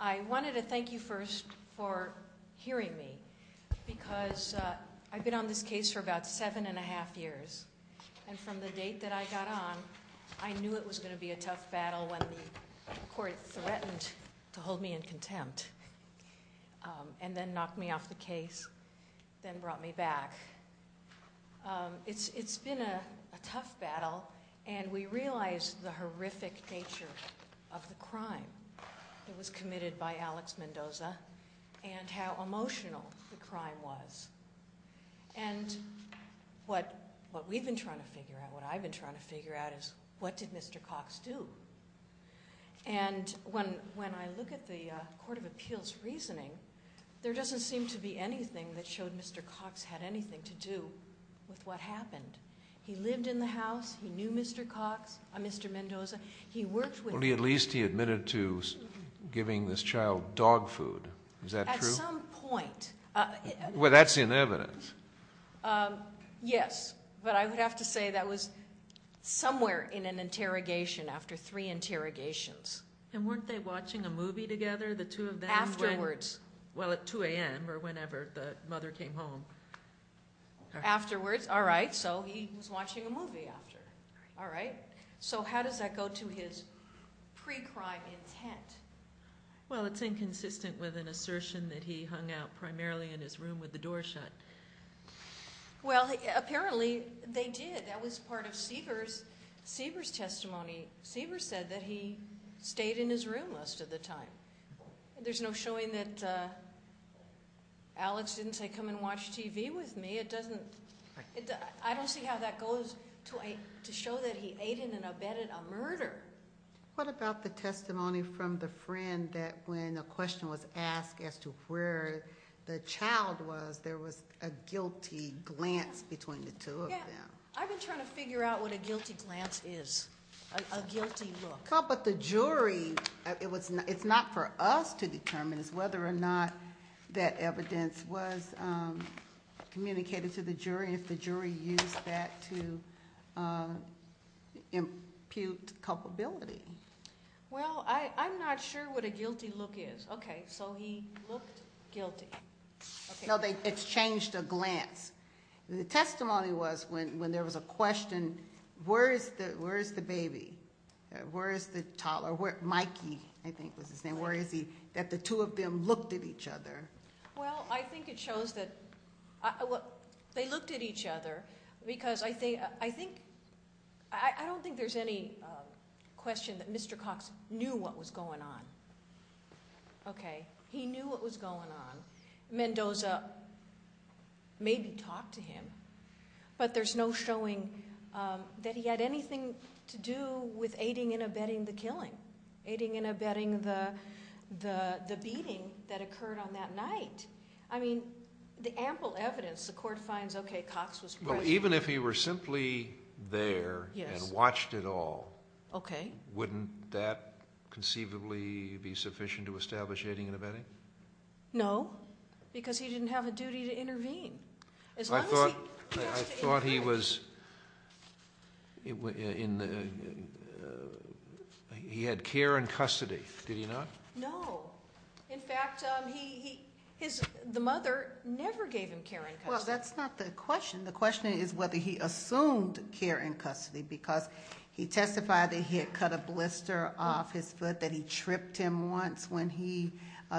I wanted to thank you first for hearing me because I've been on this case for about seven and a half years, and from the date that I got on, I knew it was going to be a tough battle when the court threatened to hold me in contempt, and then knocked me off the case, then brought me back. It's been a tough battle, and we realized the horrific nature of the crime that was committed by Alex Mendoza, and how emotional the crime was. And what we've been trying to figure out, what I've been trying to figure out, is what did Mr. Cox do? And when I look at the court of appeals reasoning, there doesn't seem to be anything that showed Mr. Cox had anything to do with what happened. He lived in the house, he knew Mr. Cox, Mr. Mendoza, he worked with him. At least he admitted to giving this child dog food. Is that true? At some point. Well, that's in evidence. Yes, but I would have to say that was somewhere in an interrogation after three interrogations. And weren't they watching a movie together, the two of them? Afterwards. Well, at 2 a.m. or whenever the mother came home. Afterwards, all right, so he was watching a movie after. All right. So how does that go to his pre-crime intent? Well, it's inconsistent with an assertion that he hung out primarily in his room with the door shut. Well, apparently they did. That was part of Sieber's testimony. Sieber said that he stayed in his room most of the time. There's no showing that Alex didn't say, come and watch TV with me. I don't see how that goes to show that he aided and abetted a murder. What about the testimony from the friend that when a question was asked as to where the child was, there was a guilty glance between the two of them? Yeah, I've been trying to figure out what a guilty glance is, a guilty look. But the jury, it's not for us to determine whether or not that evidence was communicated to the jury if the jury used that to impute culpability. Well, I'm not sure what a guilty look is. Okay, so he looked guilty. No, it's changed a glance. The testimony was when there was a question, where is the baby? Where is the toddler? Mikey, I think was his name. Where is he? That the two of them looked at each other. Well, I think it shows that they looked at each other because I think, I don't think there's any question that Mr. Cox knew what was going on. Okay, he knew what was going on. Mendoza maybe talked to him, but there's no showing that he had anything to do with aiding and abetting the killing, aiding and abetting the beating that occurred on that night. I mean, the ample evidence, the court finds, okay, Cox was present. Well, even if he were simply there and watched it all, wouldn't that conceivably be sufficient to establish aiding and abetting? No, because he didn't have a duty to intervene. I thought he was, he had care and custody. Did he not? No. In fact, the mother never gave him care and custody. Well, that's not the question. The question is whether he assumed care and custody because he testified that he had cut a blister off his foot, that he tripped him once when he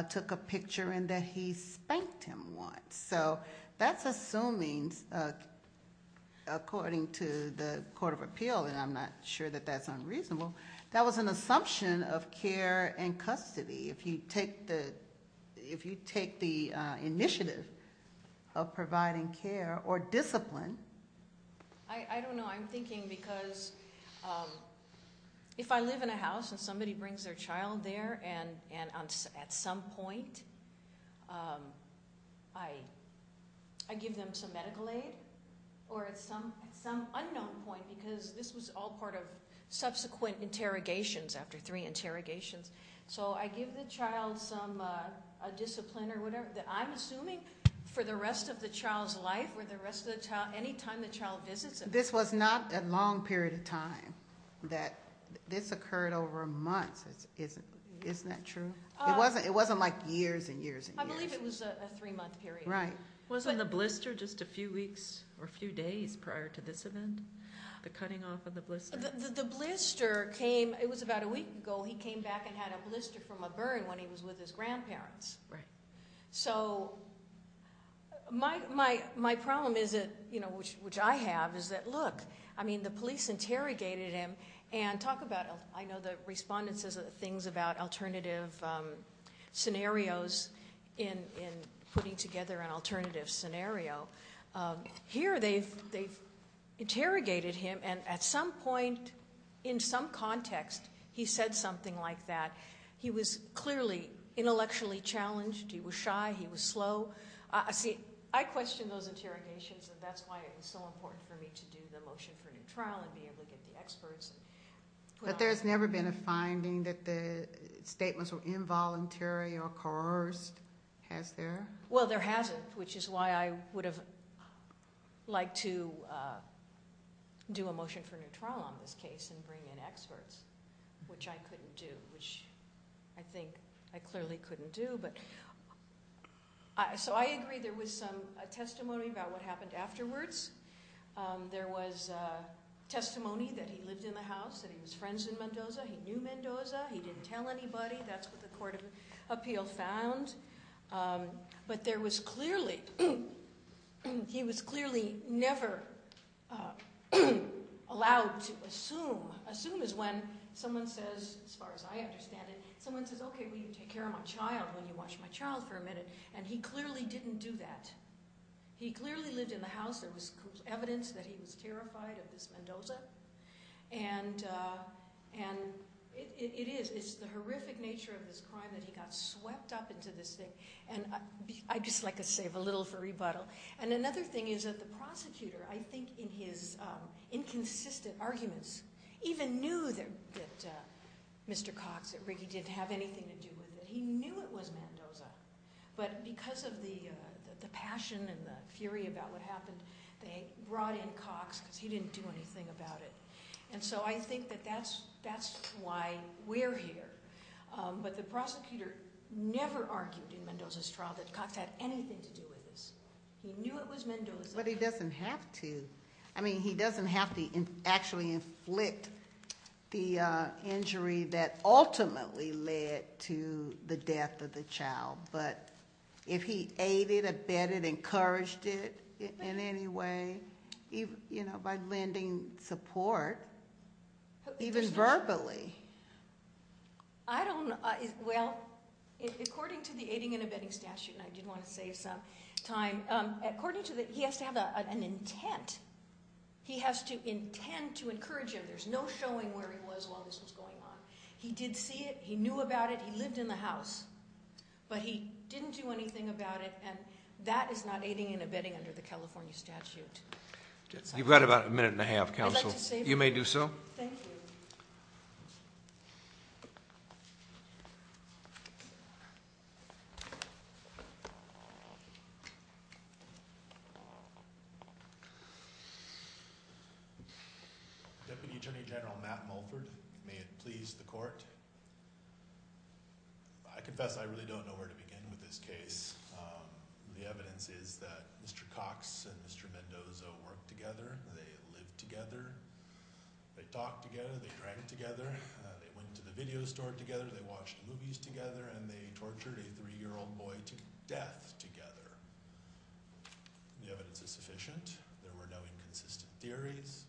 took a picture, and that he spanked him once. So that's assuming, according to the Court of Appeal, and I'm not sure that that's unreasonable, that was an assumption of care and custody. If you take the initiative of providing care or discipline. I don't know. I'm thinking because if I live in a house and somebody brings their child there, and at some point I give them some medical aid or at some unknown point, because this was all part of subsequent interrogations after three interrogations. So I give the child some discipline or whatever that I'm assuming for the rest of the child's life or the rest of the child, any time the child visits. This was not a long period of time. This occurred over a month. Isn't that true? It wasn't like years and years and years. I believe it was a three-month period. Right. Wasn't the blister just a few weeks or a few days prior to this event, the cutting off of the blister? The blister came, it was about a week ago. He came back and had a blister from a burn when he was with his grandparents. Right. So my problem is that, which I have, is that look, I mean the police interrogated him and talk about, I know the respondent says things about alternative scenarios in putting together an alternative scenario. Here they've interrogated him, and at some point, in some context, he said something like that. He was clearly intellectually challenged. He was shy. He was slow. See, I question those interrogations, and that's why it was so important for me to do the motion for a new trial and be able to get the experts. But there's never been a finding that the statements were involuntary or coerced. Has there? Well, there hasn't, which is why I would have liked to do a motion for a new trial on this case and bring in experts, which I couldn't do, which I think I clearly couldn't do. So I agree there was some testimony about what happened afterwards. There was testimony that he lived in the house, that he was friends with Mendoza. He knew Mendoza. He didn't tell anybody. That's what the court of appeal found. But there was clearly, he was clearly never allowed to assume. Assume is when someone says, as far as I understand it, someone says, okay, well, you take care of my child when you watch my child for a minute, and he clearly didn't do that. He clearly lived in the house. There was evidence that he was terrified of this Mendoza, and it is. The horrific nature of this crime that he got swept up into this thing. And I'd just like to save a little for rebuttal. And another thing is that the prosecutor, I think, in his inconsistent arguments, even knew that Mr. Cox, that Riggi didn't have anything to do with it. He knew it was Mendoza. But because of the passion and the fury about what happened, they brought in Cox because he didn't do anything about it. And so I think that that's why we're here. But the prosecutor never argued in Mendoza's trial that Cox had anything to do with this. He knew it was Mendoza. But he doesn't have to. I mean, he doesn't have to actually inflict the injury that ultimately led to the death of the child. But if he aided, abetted, encouraged it in any way, you know, by lending support, even verbally. I don't know. Well, according to the aiding and abetting statute, and I did want to save some time, according to that, he has to have an intent. He has to intend to encourage him. There's no showing where he was while this was going on. He did see it. He knew about it. He lived in the house. But he didn't do anything about it. And that is not aiding and abetting under the California statute. You've got about a minute and a half, counsel. You may do so. Thank you. Thank you. Deputy Attorney General Matt Mulford, may it please the court. I confess I really don't know where to begin with this case. The evidence is that Mr. Cox and Mr. Mendoza worked together. They lived together. They talked together. They drank together. They went to the video store together. They watched movies together. And they tortured a three-year-old boy to death together. The evidence is sufficient. There were no inconsistent theories.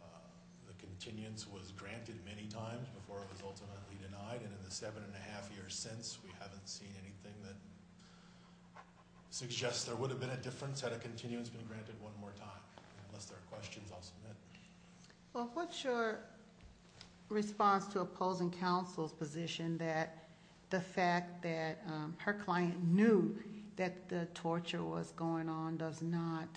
The continuance was granted many times before it was ultimately denied. And in the seven and a half years since, we haven't seen anything that suggests there would have been a difference had a continuance been granted one more time. Unless there are questions, I'll submit. Well, what's your response to opposing counsel's position that the fact that her client knew that the torture was going on does not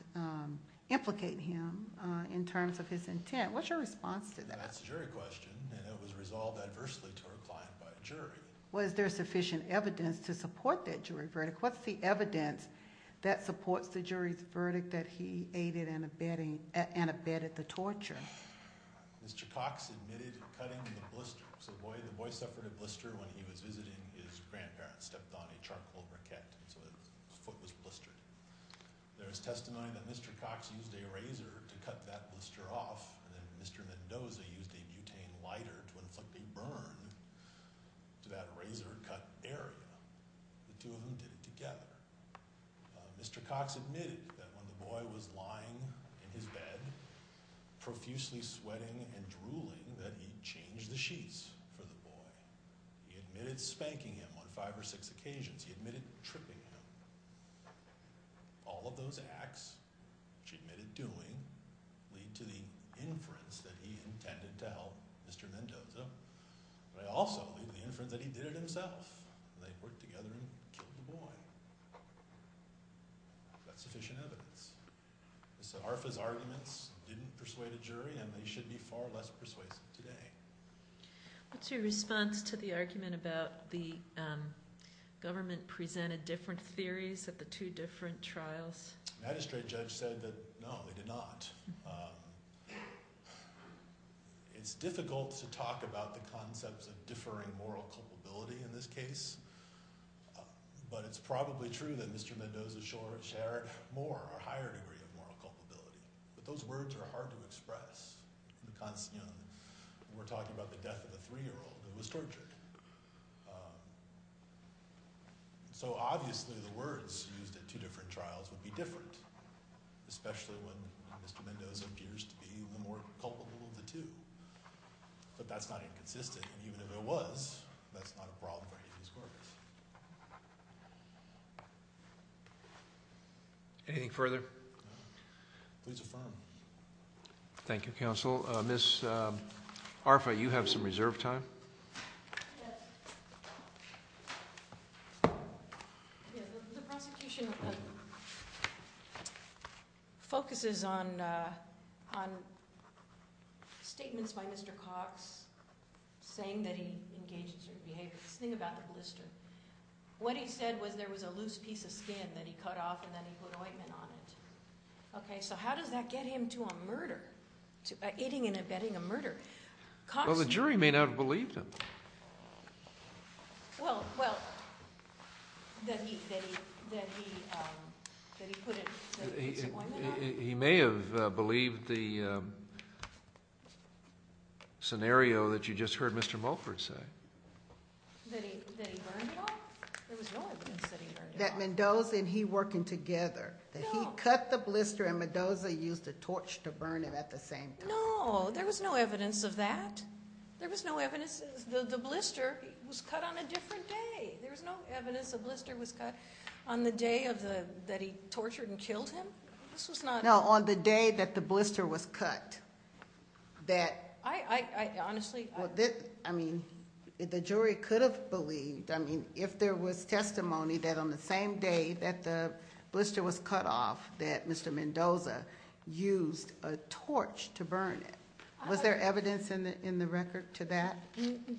implicate him in terms of his intent? What's your response to that? That's a jury question. And it was resolved adversely to her client by a jury. Was there sufficient evidence to support that jury verdict? What's the evidence that supports the jury's verdict that he aided and abetted the torture? Mr. Cox admitted cutting the blister. So the boy suffered a blister when he was visiting. His grandparents stepped on a charcoal briquette, so his foot was blistered. There is testimony that Mr. Cox used a razor to cut that blister off, and then Mr. Mendoza used a butane lighter to inflict a burn to that razor-cut area. The two of them did it together. Mr. Cox admitted that when the boy was lying in his bed, profusely sweating and drooling, that he changed the sheets for the boy. He admitted spanking him on five or six occasions. He admitted tripping him. All of those acts, which he admitted doing, lead to the inference that he intended to help Mr. Mendoza. But I also believe the inference that he did it himself. They worked together and killed the boy. Is that sufficient evidence? Mr. Arfa's arguments didn't persuade a jury, and they should be far less persuasive today. What's your response to the argument about the government presented different theories at the two different trials? The magistrate judge said that, no, they did not. It's difficult to talk about the concepts of differing moral culpability in this case, but it's probably true that Mr. Mendoza shared more or a higher degree of moral culpability. But those words are hard to express. We're talking about the death of a 3-year-old who was tortured. So obviously the words used at two different trials would be different, especially when Mr. Mendoza appears to be the more culpable of the two. But that's not inconsistent, and even if it was, that's not a problem for any of these courts. Anything further? Please affirm. Thank you, counsel. Ms. Arfa, you have some reserve time. Yes. The prosecution focuses on statements by Mr. Cox saying that he engaged in certain behaviors. Think about the blister. What he said was there was a loose piece of skin that he cut off and then he put ointment on it. Okay, so how does that get him to a murder, eating and abetting a murder? Well, the jury may not have believed him. Well, that he put his ointment on? He may have believed the scenario that you just heard Mr. Mulford say. That he burned it off? There was no evidence that he burned it off. That Mendoza and he working together, that he cut the blister and Mendoza used a torch to burn it at the same time. No, there was no evidence of that. There was no evidence. The blister was cut on a different day. There was no evidence the blister was cut on the day that he tortured and killed him. This was not- No, on the day that the blister was cut. That- I honestly- I mean, the jury could have believed, I mean, if there was testimony that on the same day that the blister was cut off that Mr. Mendoza used a torch to burn it. Was there evidence in the record to that?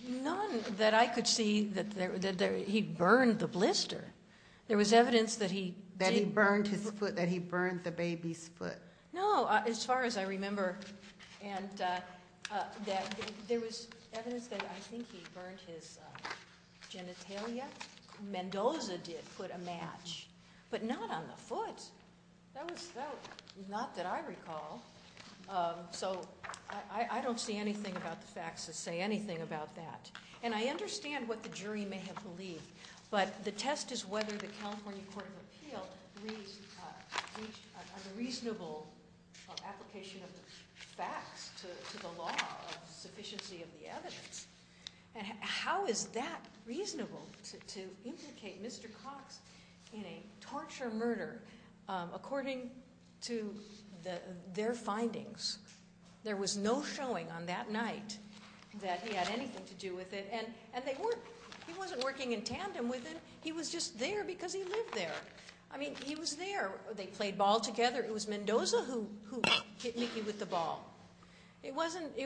None that I could see that he burned the blister. There was evidence that he- That he burned his foot, that he burned the baby's foot. No, as far as I remember. And that there was evidence that I think he burned his genitalia. Mendoza did put a match, but not on the foot. That was- not that I recall. So, I don't see anything about the facts to say anything about that. And I understand what the jury may have believed. But the test is whether the California Court of Appeal is a reasonable application of facts to the law of sufficiency of the evidence. And how is that reasonable to implicate Mr. Cox in a torture murder according to their findings? There was no showing on that night that he had anything to do with it. And they weren't- he wasn't working in tandem with him. He was just there because he lived there. I mean, he was there. They played ball together. It was Mendoza who hit Mickey with the ball. It wasn't-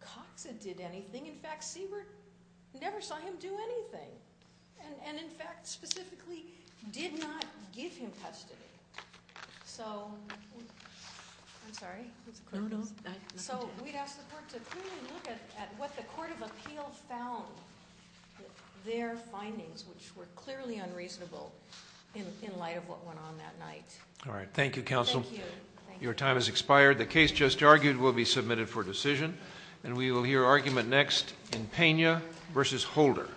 Cox that did anything. In fact, Siebert never saw him do anything. And, in fact, specifically did not give him custody. So, I'm sorry. So, we'd ask the court to clearly look at what the Court of Appeal found. Their findings, which were clearly unreasonable in light of what went on that night. All right. Thank you, counsel. Thank you. Your time has expired. The case just argued will be submitted for decision. And we will hear argument next in Pena v. Holder.